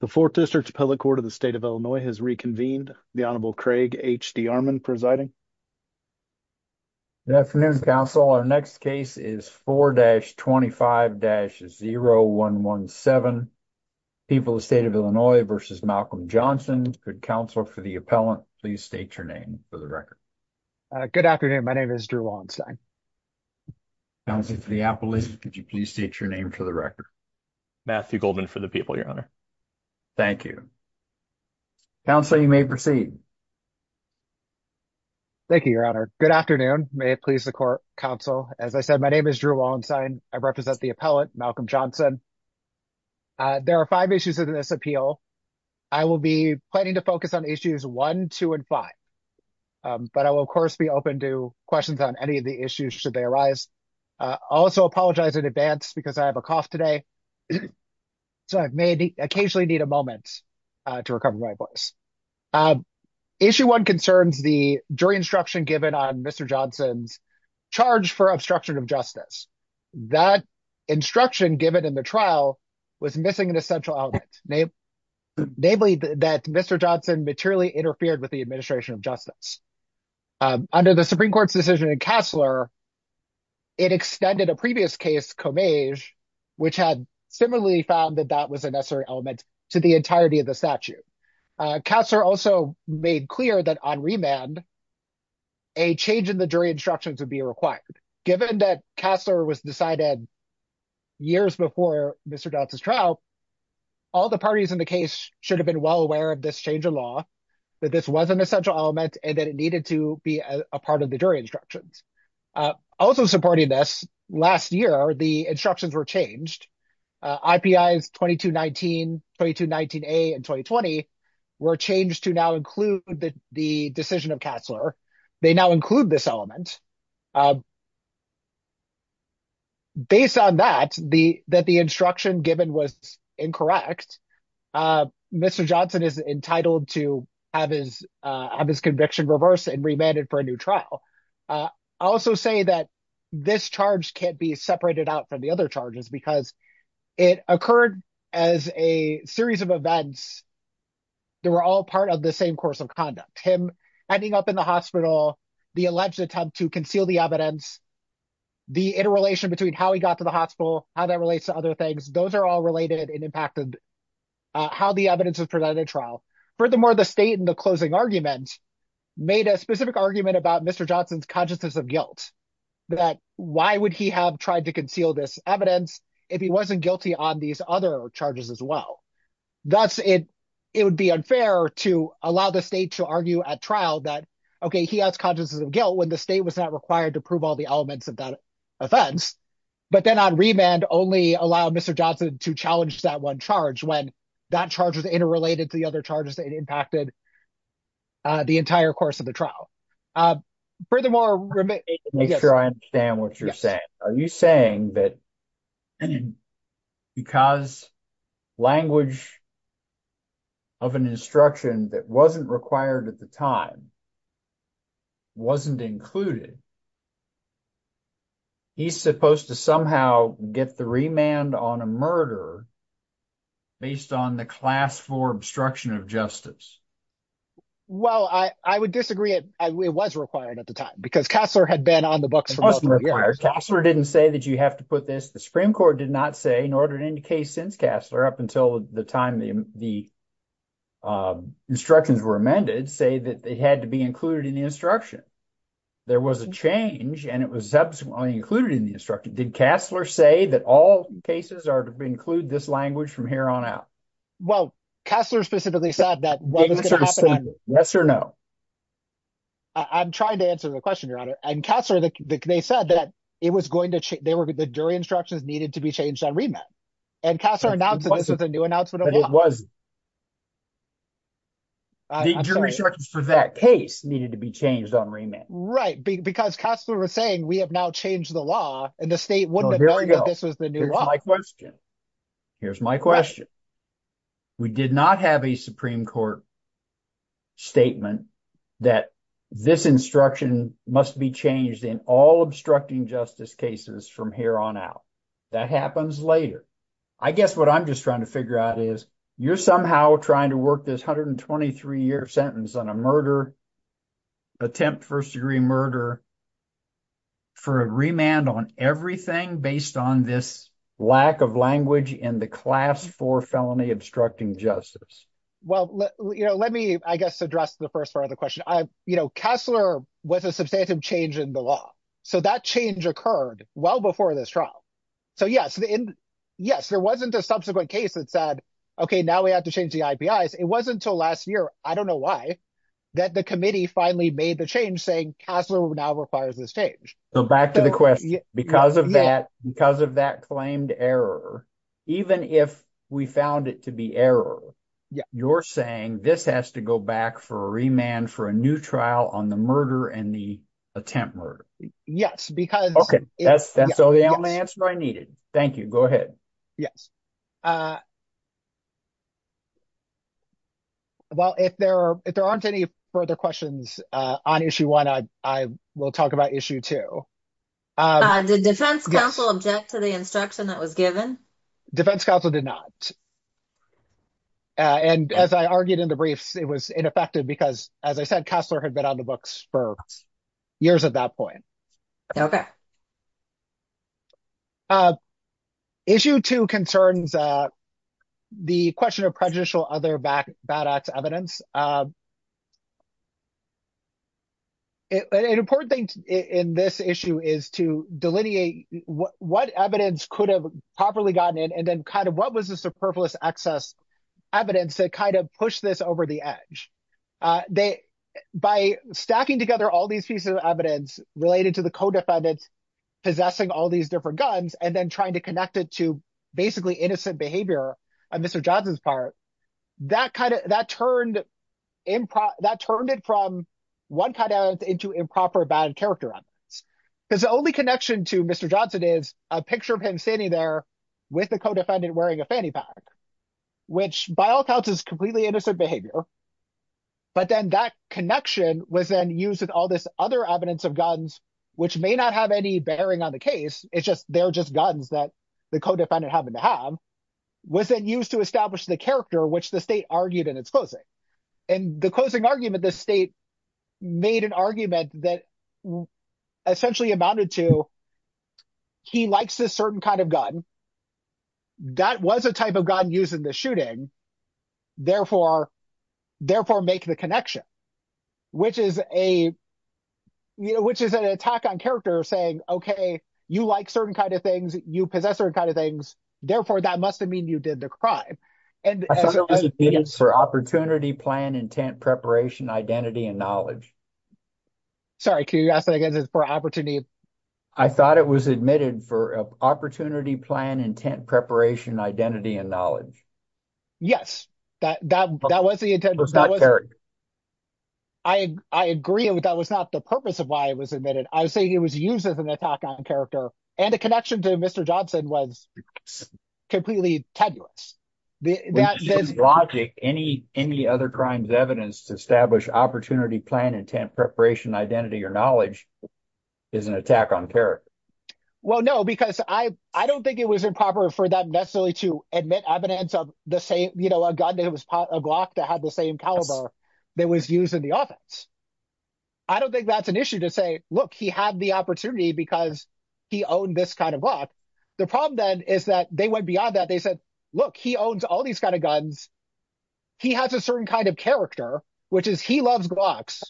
The 4th District Appellate Court of the State of Illinois has reconvened. The Honorable Craig H.D. Armond presiding. Good afternoon, counsel. Our next case is 4-25-0117. People of the State of Illinois v. Malcolm Johnson. Could counsel for the appellant please state your name for the record? Good afternoon. My name is Drew Weinstein. Counsel for the appellant, could you please state your name for the record? Matthew Goldman for the people, your honor. Thank you. Counsel, you may proceed. Thank you, your honor. Good afternoon. May it please the court, counsel. As I said, my name is Drew Weinstein. I represent the appellant, Malcolm Johnson. There are five issues in this appeal. I will be planning to focus on issues 1, 2, and 5. But I will, of course, be open to questions on any of the issues should they arise. I also apologize in advance because I have a cough today, so I may occasionally need a moment to recover my voice. Issue 1 concerns the jury instruction given on Mr. Johnson's charge for obstruction of justice. That instruction given in the trial was missing an essential element, namely that Mr. Johnson materially interfered with the administration of justice. Under the Supreme Court's decision in Cassler, it extended a previous case, Comage, which had similarly found that that was a necessary element to the entirety of the statute. Cassler also made clear that on remand, a change in the jury instructions would be required. Given that Cassler was decided years before Mr. Johnson's trial, all the parties in the case should have been well aware of this change of law, that this was an essential element, and that it needed to be a part of the jury instructions. Also supporting this, last year, the instructions were changed. IPIs 2219, 2219A, and 2020 were changed to now include the decision of Cassler. They now include this element. Based on that, that the instruction given was incorrect, Mr. Johnson is entitled to have his conviction reversed and remanded for a new trial. I also say that this charge can't be separated out from the other charges because it occurred as a series of events that were all part of the same course of conduct. Him ending up in the hospital, the alleged attempt to conceal the evidence, the interrelation between how he got to the hospital, how that relates to other things, those are all related and impacted how the evidence was presented in trial. Furthermore, the state in the closing argument made a specific argument about Mr. Johnson's consciousness of guilt, that why would he have tried to conceal this evidence if he wasn't guilty on these other charges as well. Thus, it would be unfair to allow the state to argue at trial that, okay, he has consciousness of guilt when the state was not required to prove all the elements of that offense, but then on remand only allow Mr. Johnson to challenge that one charge when that charge was interrelated to the other charges that impacted the entire course of the trial. Make sure I understand what you're saying. Are you saying that because language of an instruction that wasn't required at the time wasn't included, he's supposed to somehow get the remand on a murder based on the class four obstruction of justice? Well, I would disagree. It was required at the time because Kassler had been on the books for multiple years. It wasn't required. Kassler didn't say that you have to put this. The Supreme Court did not say nor did any case since Kassler up until the time the instructions were amended say that they had to be included in the instruction. There was a change and it was subsequently included in the instruction. Did Kassler say that all cases are to include this language from here on out? Well, Kassler specifically said that. Yes or no? I'm trying to answer the question, Your Honor. And Kassler, they said that it was going to change. The jury instructions needed to be changed on remand. And Kassler announced that this was a new announcement of law. But it wasn't. The jury instructions for that case needed to be changed on remand. Right. Because Kassler was saying we have now changed the law and the state wouldn't have known that this was the new law. Here's my question. We did not have a Supreme Court statement that this instruction must be changed in all obstructing justice cases from here on out. That happens later. I guess what I'm just trying to figure out is you're somehow trying to work this hundred and twenty three year sentence on a murder attempt, first degree murder for a remand on everything based on this lack of language in the class for felony obstructing justice. Well, let me, I guess, address the first part of the question. Kassler was a substantive change in the law. So that change occurred well before this trial. So, yes, there wasn't a subsequent case that said, OK, now we have to change the IPIs. It wasn't until last year, I don't know why, that the committee finally made the change saying Kassler now requires this change. So back to the question, because of that, because of that claimed error, even if we found it to be error, you're saying this has to go back for a remand for a new trial on the murder and the attempt murder? Yes, because – OK. That's the only answer I needed. Thank you. Go ahead. Yes. Well, if there aren't any further questions on issue one, I will talk about issue two. Did defense counsel object to the instruction that was given? Defense counsel did not. And as I argued in the briefs, it was ineffective because, as I said, Kassler had been on the books for years at that point. OK. Issue two concerns the question of prejudicial other bad acts evidence. An important thing in this issue is to delineate what evidence could have properly gotten in and then kind of what was the superfluous excess evidence to kind of push this over the edge. By stacking together all these pieces of evidence related to the co-defendants possessing all these different guns and then trying to connect it to basically innocent behavior on Mr. Johnson's part, that turned it from one kind of into improper bad character evidence. Because the only connection to Mr. Johnson is a picture of him standing there with the co-defendant wearing a fanny pack, which by all accounts is completely innocent behavior. But then that connection was then used with all this other evidence of guns, which may not have any bearing on the case. It's just they're just guns that the co-defendant happened to have, was then used to establish the character which the state argued in its closing. And the closing argument, the state made an argument that essentially amounted to he likes this certain kind of gun. That was a type of gun used in the shooting. Therefore, make the connection, which is an attack on character saying, OK, you like certain kind of things. You possess certain kind of things. Therefore, that must mean you did the crime. I thought it was admitted for opportunity, plan, intent, preparation, identity and knowledge. Sorry, can you ask that again? It's for opportunity. I thought it was admitted for opportunity, plan, intent, preparation, identity and knowledge. Yes, that was the intent. It was not character. I agree. That was not the purpose of why it was admitted. I was saying it was used as an attack on character, and the connection to Mr. Johnson was completely tenuous. With this logic, any other crimes evidenced to establish opportunity, plan, intent, preparation, identity or knowledge is an attack on character. Well, no, because I don't think it was improper for them necessarily to admit evidence of the same – a gun that was a Glock that had the same caliber that was used in the offense. I don't think that's an issue to say, look, he had the opportunity because he owned this kind of Glock. The problem then is that they went beyond that. They said, look, he owns all these kind of guns. He has a certain kind of character, which is he loves Glocks.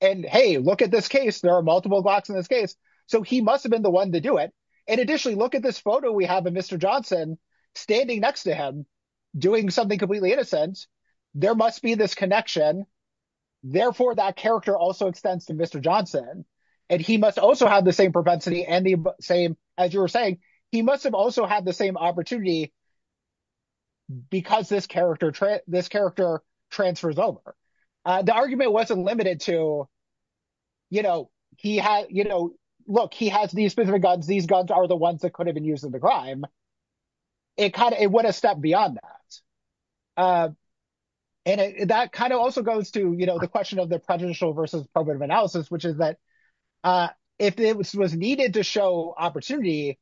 And hey, look at this case. There are multiple Glocks in this case. So he must have been the one to do it. And additionally, look at this photo we have of Mr. Johnson standing next to him doing something completely innocent. There must be this connection. Therefore, that character also extends to Mr. Johnson. And he must also have the same propensity and the same – as you were saying, he must have also had the same opportunity because this character transfers over. The argument wasn't limited to, look, he has these specific guns. These guns are the ones that could have been used in the crime. It kind of – it went a step beyond that. And that kind of also goes to the question of the prejudicial versus probative analysis, which is that if it was needed to show opportunity,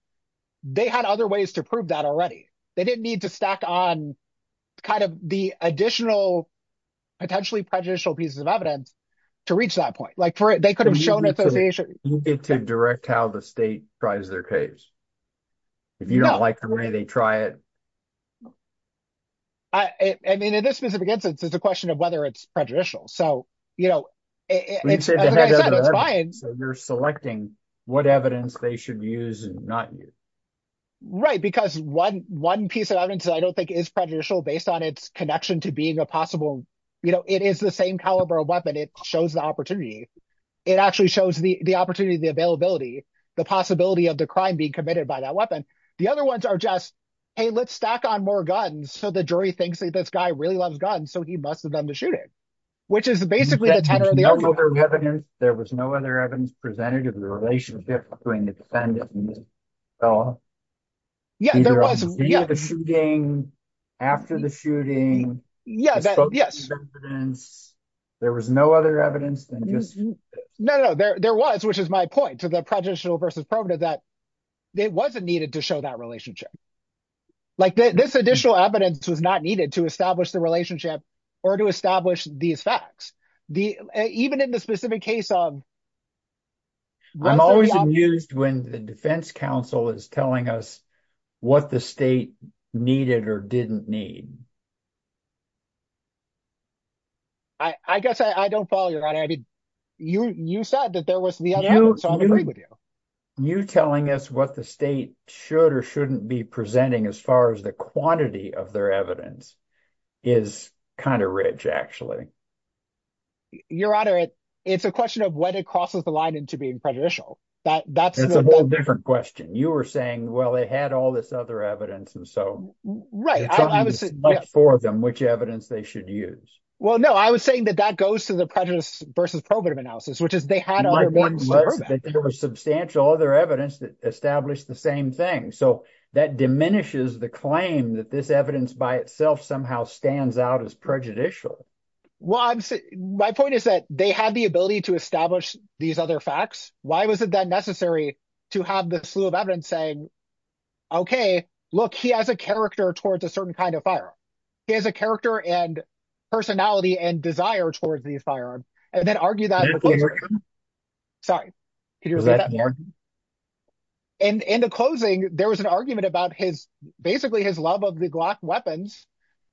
they had other ways to prove that already. They didn't need to stack on kind of the additional potentially prejudicial pieces of evidence to reach that point. Like they could have shown association. You get to direct how the state tries their case. If you don't like the way they try it. I mean in this specific instance, it's a question of whether it's prejudicial. So it's fine. So you're selecting what evidence they should use and not use. Right, because one piece of evidence that I don't think is prejudicial based on its connection to being a possible – it is the same caliber of weapon. It shows the opportunity. It actually shows the opportunity, the availability, the possibility of the crime being committed by that weapon. The other ones are just, hey, let's stack on more guns. So the jury thinks that this guy really loves guns, so he must have done the shooting, which is basically the tenor of the argument. There was no other evidence presented of the relationship between the defendant and the felon? Yeah, there was. The shooting, after the shooting. There was no other evidence than just – No, no, no. There was, which is my point to the prejudicial versus probative that it wasn't needed to show that relationship. Like this additional evidence was not needed to establish the relationship or to establish these facts. Even in the specific case of – I'm always amused when the defense counsel is telling us what the state needed or didn't need. I guess I don't follow, Your Honor. I mean you said that there was the other evidence, so I'll agree with you. You telling us what the state should or shouldn't be presenting as far as the quantity of their evidence is kind of rich actually. Your Honor, it's a question of when it crosses the line into being prejudicial. It's a whole different question. You were saying, well, they had all this other evidence, and so it's up to the four of them which evidence they should use. Well, no. I was saying that that goes to the prejudice versus probative analysis, which is they had other evidence. There was substantial other evidence that established the same thing, so that diminishes the claim that this evidence by itself somehow stands out as prejudicial. My point is that they had the ability to establish these other facts. Why was it then necessary to have the slew of evidence saying, okay, look, he has a character towards a certain kind of firearm. He has a character and personality and desire towards these firearms, and then argue that in the closing. Sorry. In the closing, there was an argument about his – basically his love of the Glock weapons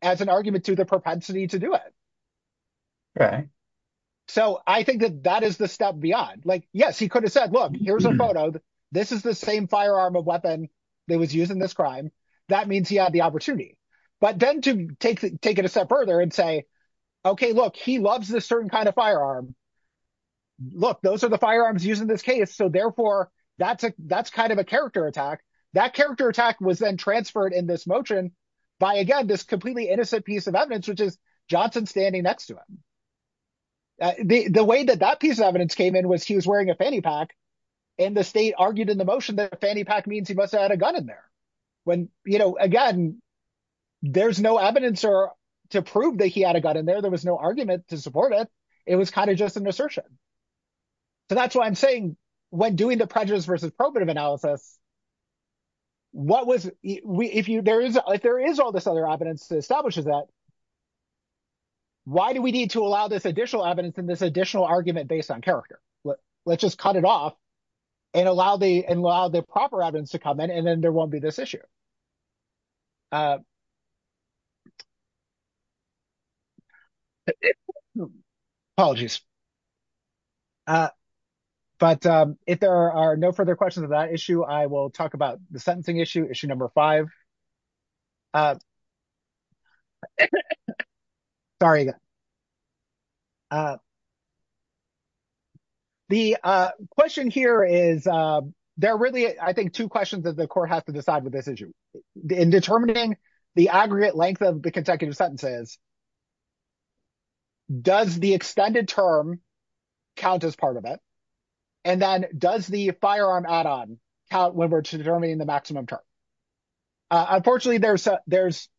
as an argument to the propensity to do it. So I think that that is the step beyond. Yes, he could have said, look, here's a photo. This is the same firearm of weapon that was used in this crime. That means he had the opportunity. But then to take it a step further and say, okay, look, he loves this certain kind of firearm. Look, those are the firearms used in this case, so therefore, that's kind of a character attack. That character attack was then transferred in this motion by, again, this completely innocent piece of evidence, which is Johnson standing next to him. The way that that piece of evidence came in was he was wearing a fanny pack, and the state argued in the motion that a fanny pack means he must have had a gun in there. When, you know, again, there's no evidence to prove that he had a gun in there. There was no argument to support it. It was kind of just an assertion. So that's why I'm saying when doing the prejudice versus probative analysis, what was – if there is all this other evidence that establishes that, why do we need to allow this additional evidence and this additional argument based on character? Let's just cut it off and allow the proper evidence to come in, and then there won't be this issue. Apologies. But if there are no further questions on that issue, I will talk about the sentencing issue, issue number five. Sorry. The question here is – there are really, I think, two questions that the court has to decide with this issue. In determining the aggregate length of the consecutive sentences, does the extended term count as part of it? And then does the firearm add-on count when we're determining the maximum term? Unfortunately, there's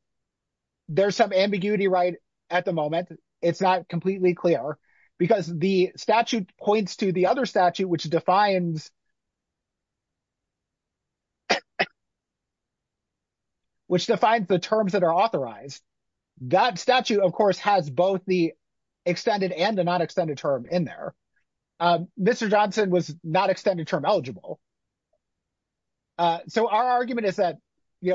some ambiguity right at the moment. It's not completely clear, because the statute points to the other statute, which defines the terms that are authorized. That statute, of course, has both the extended and the non-extended term in there. Mr. Johnson was not extended term eligible. So our argument is that,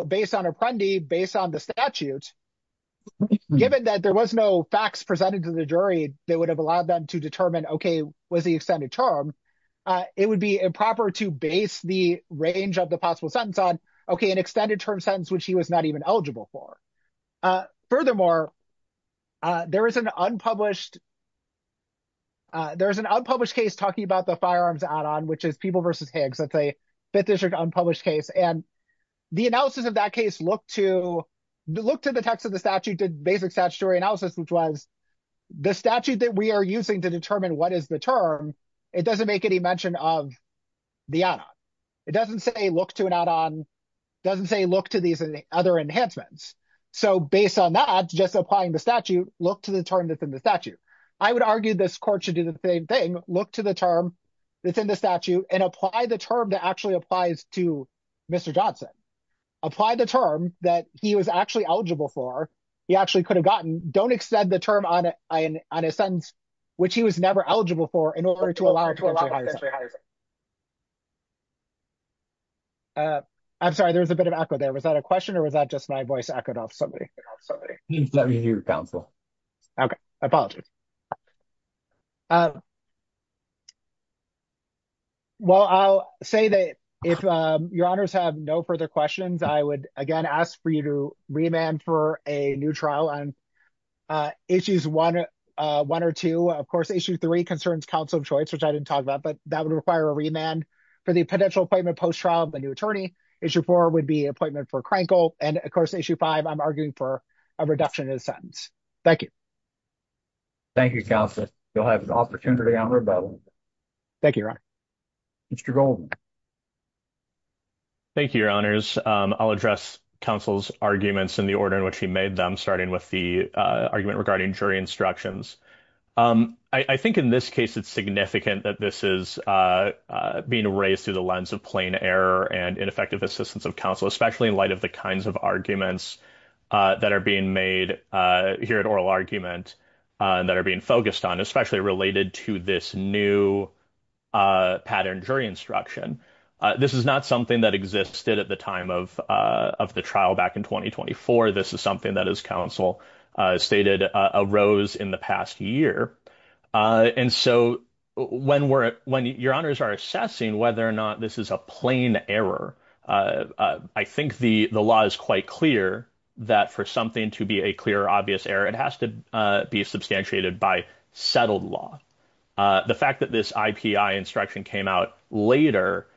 based on Apprendi, based on the statute, given that there was no facts presented to the jury that would have allowed them to determine, OK, was he extended term, it would be improper to base the range of the possible sentence on, OK, an extended term sentence which he was not even eligible for. Furthermore, there is an unpublished case talking about the firearms add-on, which is People v. Higgs. That's a Fifth District unpublished case. And the analysis of that case looked to the text of the statute, did basic statutory analysis, which was the statute that we are using to determine what is the term, it doesn't make any mention of the add-on. It doesn't say look to an add-on. So based on that, just applying the statute, look to the term that's in the statute. I would argue this court should do the same thing. Look to the term that's in the statute and apply the term that actually applies to Mr. Johnson. Apply the term that he was actually eligible for, he actually could have gotten. Don't extend the term on a sentence which he was never eligible for in order to allow potentially higher sentences. I'm sorry, there was a bit of echo there. Was that a question or was that just my voice echoed off somebody? Let me hear your counsel. OK, I apologize. Well, I'll say that if your honors have no further questions, I would again ask for you to remand for a new trial on issues one or two. Of course, issue three concerns counsel of choice, which I didn't talk about, but that would require a remand for the potential appointment post-trial of the new attorney. Issue four would be an appointment for Krenkel. And of course, issue five, I'm arguing for a reduction in the sentence. Thank you. Thank you. You'll have an opportunity. Thank you. Mr. Thank you, your honors. I'll address counsel's arguments in the order in which he made them, starting with the argument regarding jury instructions. I think in this case, it's significant that this is being raised through the lens of plain error and ineffective assistance of counsel, especially in light of the kinds of arguments that are being made here at oral argument that are being focused on, especially related to this new pattern jury instruction. This is not something that existed at the time of of the trial back in twenty twenty four. This is something that is counsel stated arose in the past year. And so when we're when your honors are assessing whether or not this is a plain error, I think the law is quite clear that for something to be a clear, obvious error, it has to be substantiated by settled law. The fact that this instruction came out later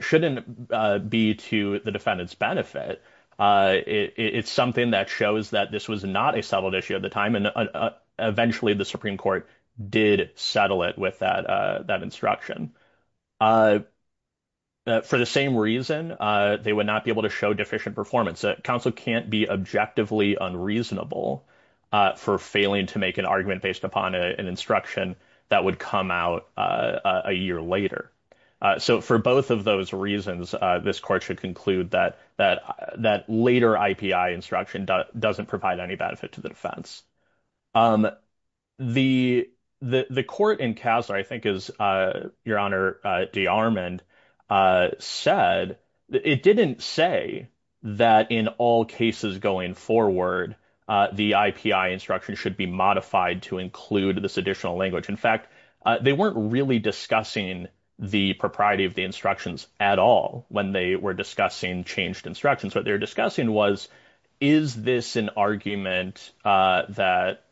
shouldn't be to the defendant's benefit. It's something that shows that this was not a settled issue at the time. And eventually the Supreme Court did settle it with that that instruction. For the same reason, they would not be able to show deficient performance. Counsel can't be objectively unreasonable for failing to make an argument based upon an instruction that would come out a year later. So for both of those reasons, this court should conclude that that that later I.P.I. instruction doesn't provide any benefit to the defense. The the court in CASA, I think, is your honor. The arm and said it didn't say that in all cases going forward, the I.P.I. instruction should be modified to include this additional language. In fact, they weren't really discussing the propriety of the instructions at all when they were discussing changed instructions. What they're discussing was, is this an argument that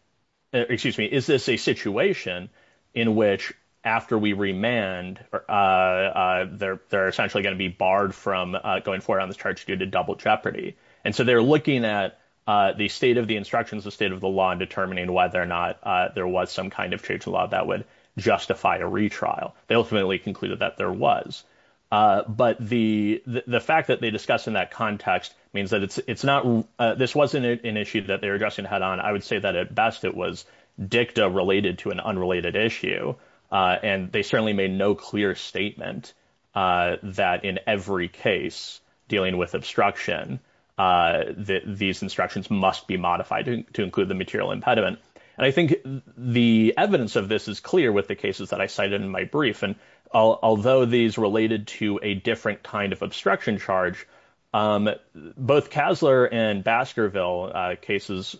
excuse me? Is this a situation in which after we remand or they're they're essentially going to be barred from going forward on this charge due to double jeopardy? And so they're looking at the state of the instructions, the state of the law, and determining whether or not there was some kind of trade law that would justify a retrial. They ultimately concluded that there was. But the the fact that they discussed in that context means that it's it's not this wasn't an issue that they're addressing head on. I would say that at best it was dicta related to an unrelated issue. And they certainly made no clear statement that in every case dealing with obstruction, that these instructions must be modified to include the material impediment. And I think the evidence of this is clear with the cases that I cited in my brief. And although these related to a different kind of obstruction charge, both Kessler and Baskerville cases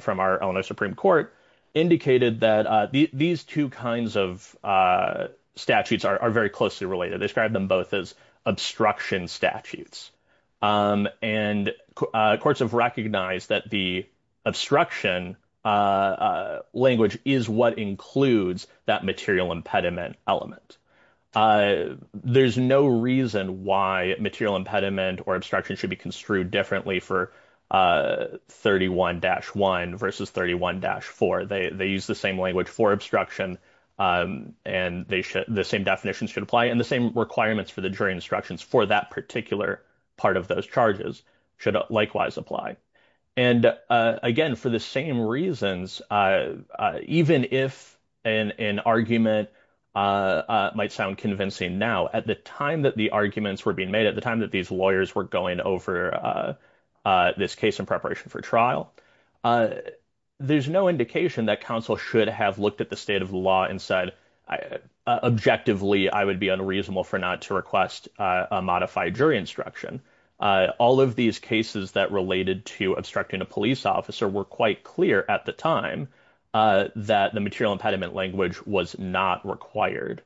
from our Illinois Supreme Court indicated that these two kinds of statutes are very closely related. They described them both as obstruction statutes, and courts have recognized that the obstruction language is what includes that material impediment element. There's no reason why material impediment or obstruction should be construed differently for 31 dash 1 versus 31 dash 4. They use the same language for obstruction, and the same definitions should apply in the same requirements for the jury instructions for that particular part of those charges should likewise apply. And again, for the same reasons, even if an argument might sound convincing now at the time that the arguments were being made at the time that these lawyers were going over this case in preparation for trial. There's no indication that counsel should have looked at the state of the law and said, objectively, I would be unreasonable for not to request a modified jury instruction. All of these cases that related to obstructing a police officer were quite clear at the time that the material impediment language was not required.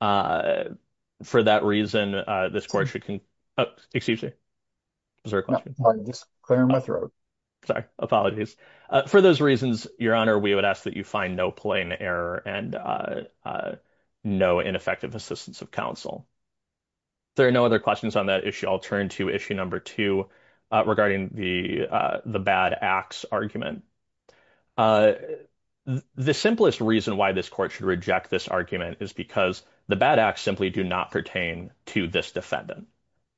For that reason, this court should can excuse me. Is there a clear in my throat? Sorry, apologies for those reasons, your honor, we would ask that you find no plain error and no ineffective assistance of counsel. There are no other questions on that issue. I'll turn to issue number 2 regarding the bad acts argument. The simplest reason why this court should reject this argument is because the bad acts simply do not pertain to this defendant.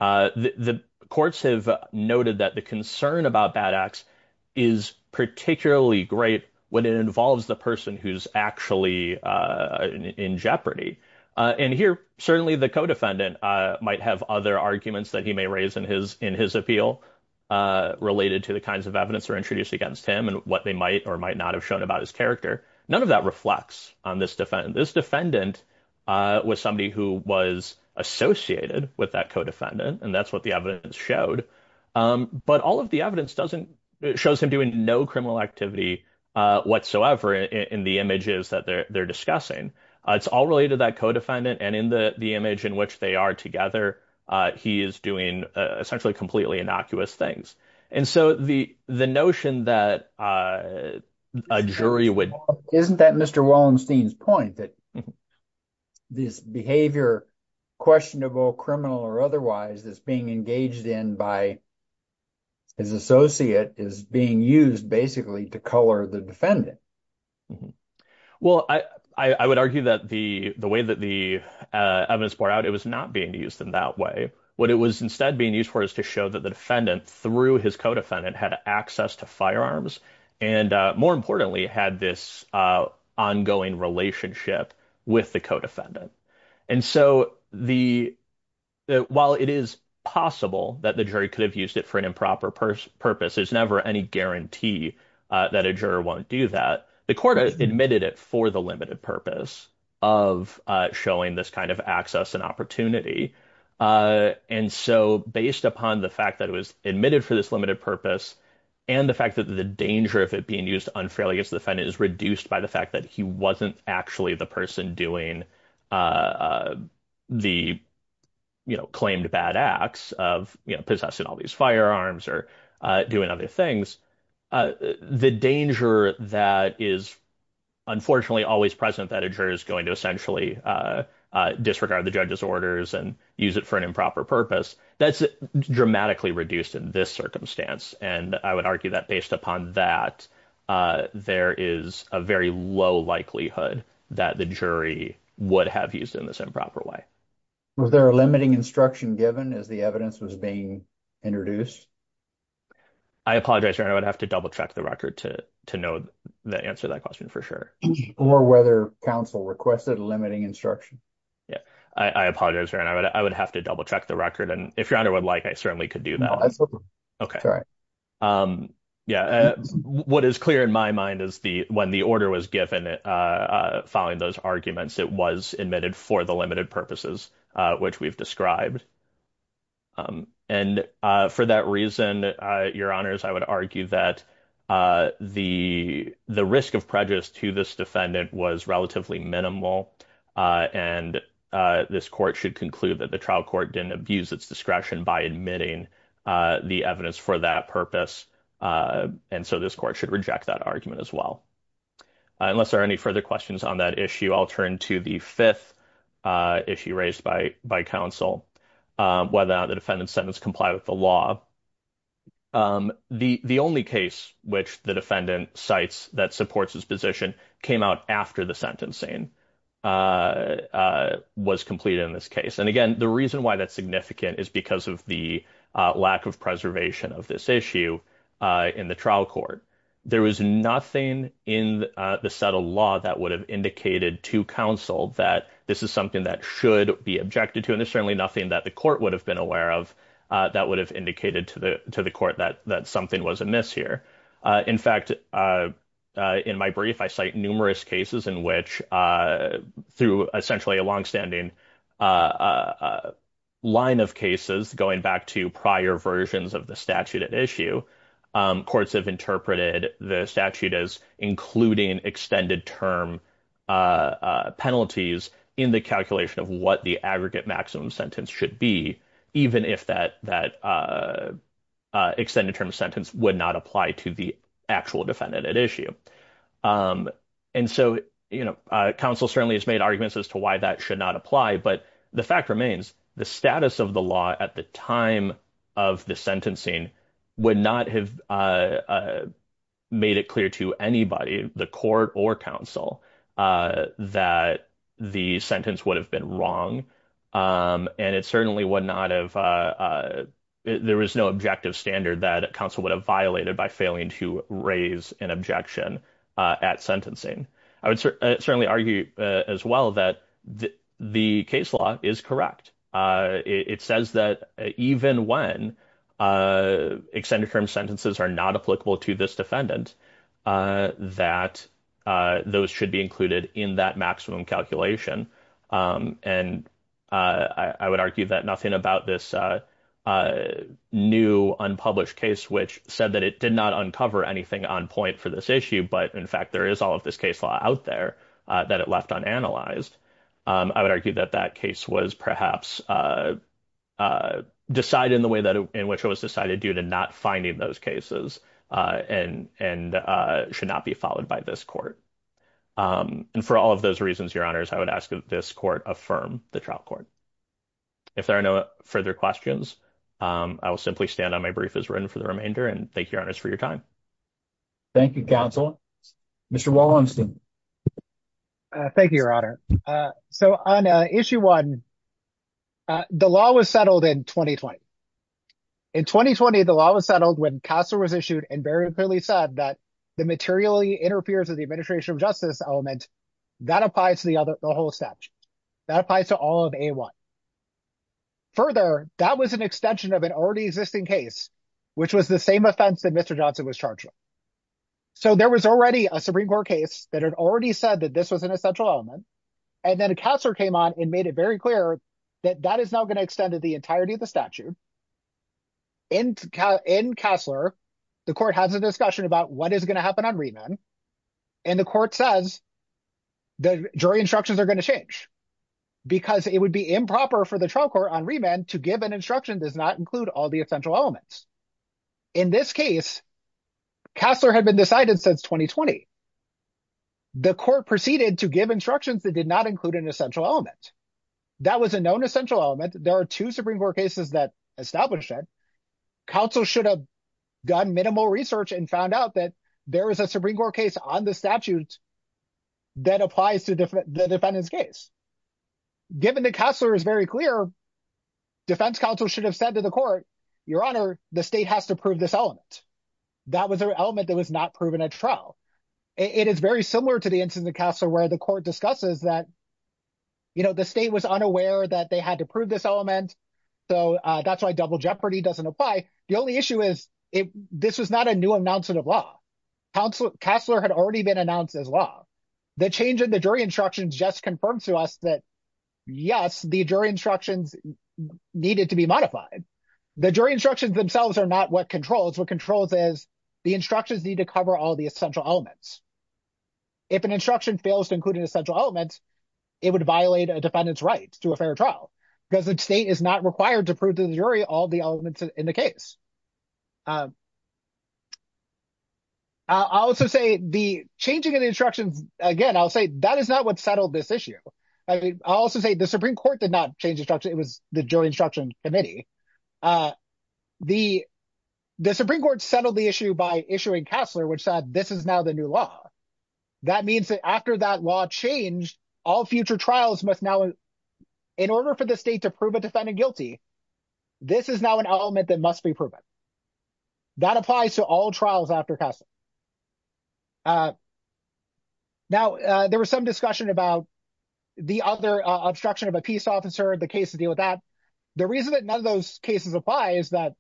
The courts have noted that the concern about bad acts is particularly great when it involves the person who's actually in jeopardy. And here, certainly, the codefendant might have other arguments that he may raise in his in his appeal related to the kinds of evidence are introduced against him and what they might or might not have shown about his character. None of that reflects on this defendant. This defendant was somebody who was associated with that codefendant. And that's what the evidence showed. But all of the evidence doesn't shows him doing no criminal activity whatsoever in the images that they're discussing. It's all related to that codefendant. And in the image in which they are together, he is doing essentially completely innocuous things. And so the the notion that a jury would. Isn't that Mr. Wallenstein's point that this behavior questionable, criminal or otherwise is being engaged in by. His associate is being used basically to color the defendant. Well, I, I would argue that the the way that the evidence bore out, it was not being used in that way. What it was instead being used for is to show that the defendant through his codefendant had access to firearms and more importantly, had this ongoing relationship with the codefendant. And so the while it is possible that the jury could have used it for an improper purpose, purpose is never any guarantee that a juror won't do that. The court admitted it for the limited purpose of showing this kind of access and opportunity. And so based upon the fact that it was admitted for this limited purpose and the fact that the danger of it being used unfairly against the defendant is reduced by the fact that he wasn't actually the person doing the claimed bad acts of possessing all these firearms or doing other things. The danger that is unfortunately always present that a juror is going to essentially disregard the judge's orders and use it for an improper purpose, that's dramatically reduced in this circumstance. And I would argue that based upon that, there is a very low likelihood that the jury would have used in this improper way. Was there a limiting instruction given as the evidence was being introduced? I apologize. I would have to double check the record to know the answer to that question for sure. Or whether counsel requested limiting instruction. Yeah, I apologize. I would have to double check the record. And if your honor would like, I certainly could do that. Yeah, what is clear in my mind is the when the order was given following those arguments, it was admitted for the limited purposes, which we've described. And for that reason, your honors, I would argue that the risk of prejudice to this defendant was relatively minimal. And this court should conclude that the trial court didn't abuse its discretion by admitting the evidence for that purpose. And so this court should reject that argument as well. Unless there are any further questions on that issue, I'll turn to the 5th issue raised by by counsel. Whether the defendant sentence comply with the law. The only case which the defendant sites that supports his position came out after the sentencing was completed in this case. And again, the reason why that's significant is because of the lack of preservation of this issue in the trial court. There was nothing in the settle law that would have indicated to counsel that this is something that should be objected to. And there's certainly nothing that the court would have been aware of that would have indicated to the to the court that that something was amiss here. In fact, in my brief, I cite numerous cases in which through essentially a long standing. A line of cases going back to prior versions of the statute at issue courts have interpreted the statute as including extended term penalties in the calculation of what the aggregate maximum sentence should be. Even if that extended term sentence would not apply to the actual defendant at issue. And so counsel certainly has made arguments as to why that should not apply. But the fact remains the status of the law at the time of the sentencing would not have made it clear to anybody, the court or counsel that the sentence would have been wrong. And it certainly would not have. There was no objective standard that counsel would have violated by failing to raise an objection at sentencing. I would certainly argue as well that the case law is correct. It says that even when extended term sentences are not applicable to this defendant, that those should be included in that maximum calculation. And I would argue that nothing about this new unpublished case, which said that it did not uncover anything on point for this issue. But, in fact, there is all of this case law out there that it left on analyzed. I would argue that that case was perhaps decided in the way that in which it was decided due to not finding those cases and and should not be followed by this court. And for all of those reasons, your honors, I would ask this court affirm the trial court. If there are no further questions, I will simply stand on my brief as written for the remainder and thank you for your time. Thank you, counsel. Mr. Wallenstein. Thank you, your honor. So on issue 1, the law was settled in 2020. In 2020, the law was settled when Castle was issued and very clearly said that the materially interferes with the administration of justice element that applies to the other. The whole statue that applies to all of a one. Further, that was an extension of an already existing case, which was the same offense that Mr. Johnson was charged with. So there was already a Supreme Court case that had already said that this was an essential element. And then a counselor came on and made it very clear that that is now going to extend to the entirety of the statute. And in Kassler, the court has a discussion about what is going to happen on remand. And the court says the jury instructions are going to change because it would be improper for the trial court on remand to give an instruction does not include all the essential elements. In this case, Kassler had been decided since 2020. The court proceeded to give instructions that did not include an essential element. That was a known essential element. There are two Supreme Court cases that established that. Counsel should have done minimal research and found out that there is a Supreme Court case on the statute that applies to the defendant's case. Given that Kassler is very clear, defense counsel should have said to the court, Your Honor, the state has to prove this element. That was an element that was not proven at trial. It is very similar to the instance of Kassler where the court discusses that the state was unaware that they had to prove this element. So that's why double jeopardy doesn't apply. The only issue is this was not a new announcement of law. Kassler had already been announced as law. The change in the jury instructions just confirmed to us that, yes, the jury instructions needed to be modified. The jury instructions themselves are not what controls. What controls is the instructions need to cover all the essential elements. If an instruction fails to include an essential element, it would violate a defendant's right to a fair trial because the state is not required to prove to the jury all the elements in the case. I'll also say the changing of the instructions, again, I'll say that is not what settled this issue. I'll also say the Supreme Court did not change instruction. It was the jury instruction committee. The Supreme Court settled the issue by issuing Kassler, which said this is now the new law. That means that after that law changed, all future trials must now, in order for the state to prove a defendant guilty, this is now an element that must be proven. That applies to all trials after Kassler. Now, there was some discussion about the other obstruction of a peace officer, the case to deal with that. The reason that none of those cases apply is that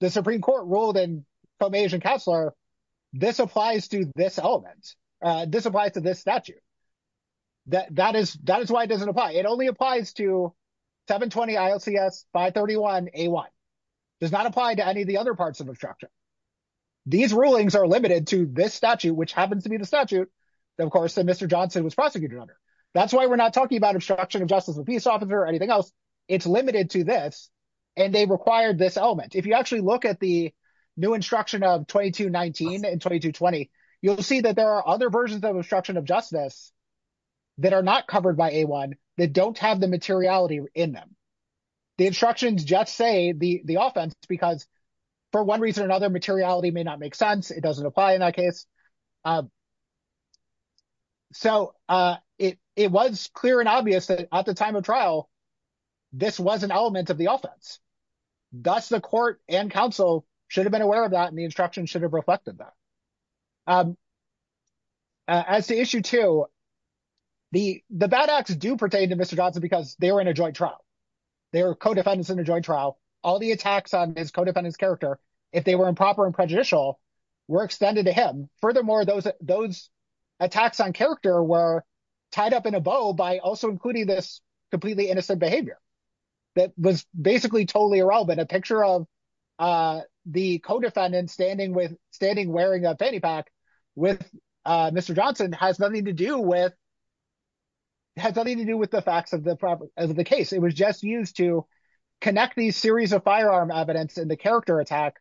the Supreme Court ruled in Fomage and Kassler, this applies to this element. This applies to this statute. That is why it doesn't apply. It only applies to 720 ILCS 531 A1. It does not apply to any of the other parts of obstruction. These rulings are limited to this statute, which happens to be the statute that, of course, that Mr. Johnson was prosecuted under. That's why we're not talking about obstruction of justice of a peace officer or anything else. It's limited to this, and they required this element. If you actually look at the new instruction of 2219 and 2220, you'll see that there are other versions of obstruction of justice that are not covered by A1 that don't have the materiality in them. The instructions just say the offense because, for one reason or another, materiality may not make sense. It doesn't apply in that case. So it was clear and obvious that at the time of trial, this was an element of the offense. Thus, the court and counsel should have been aware of that, and the instruction should have reflected that. As to issue two, the bad acts do pertain to Mr. Johnson because they were in a joint trial. They were co-defendants in a joint trial. All the attacks on his co-defendant's character, if they were improper and prejudicial, were extended to him. Furthermore, those attacks on character were tied up in a bow by also including this completely innocent behavior that was basically totally irrelevant. A picture of the co-defendant standing wearing a fanny pack with Mr. Johnson has nothing to do with the facts of the case. It was just used to connect these series of firearm evidence in the character attack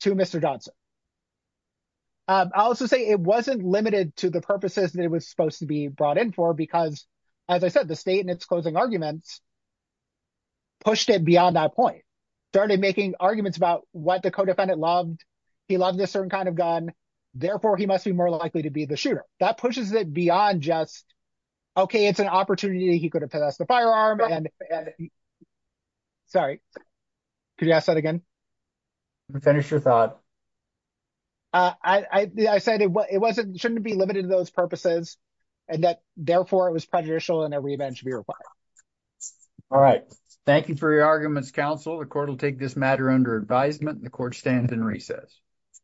to Mr. Johnson. I'll also say it wasn't limited to the purposes that it was supposed to be brought in for because, as I said, the state in its closing arguments pushed it beyond that point. It started making arguments about what the co-defendant loved. He loved this certain kind of gun. Therefore, he must be more likely to be the shooter. That pushes it beyond just, okay, it's an opportunity. He could have passed the firearm. Sorry, could you ask that again? Finish your thought. I said it shouldn't be limited to those purposes and that, therefore, it was prejudicial and that revenge should be required. All right. Thank you for your arguments, counsel. The court will take this matter under advisement. The court stands in recess.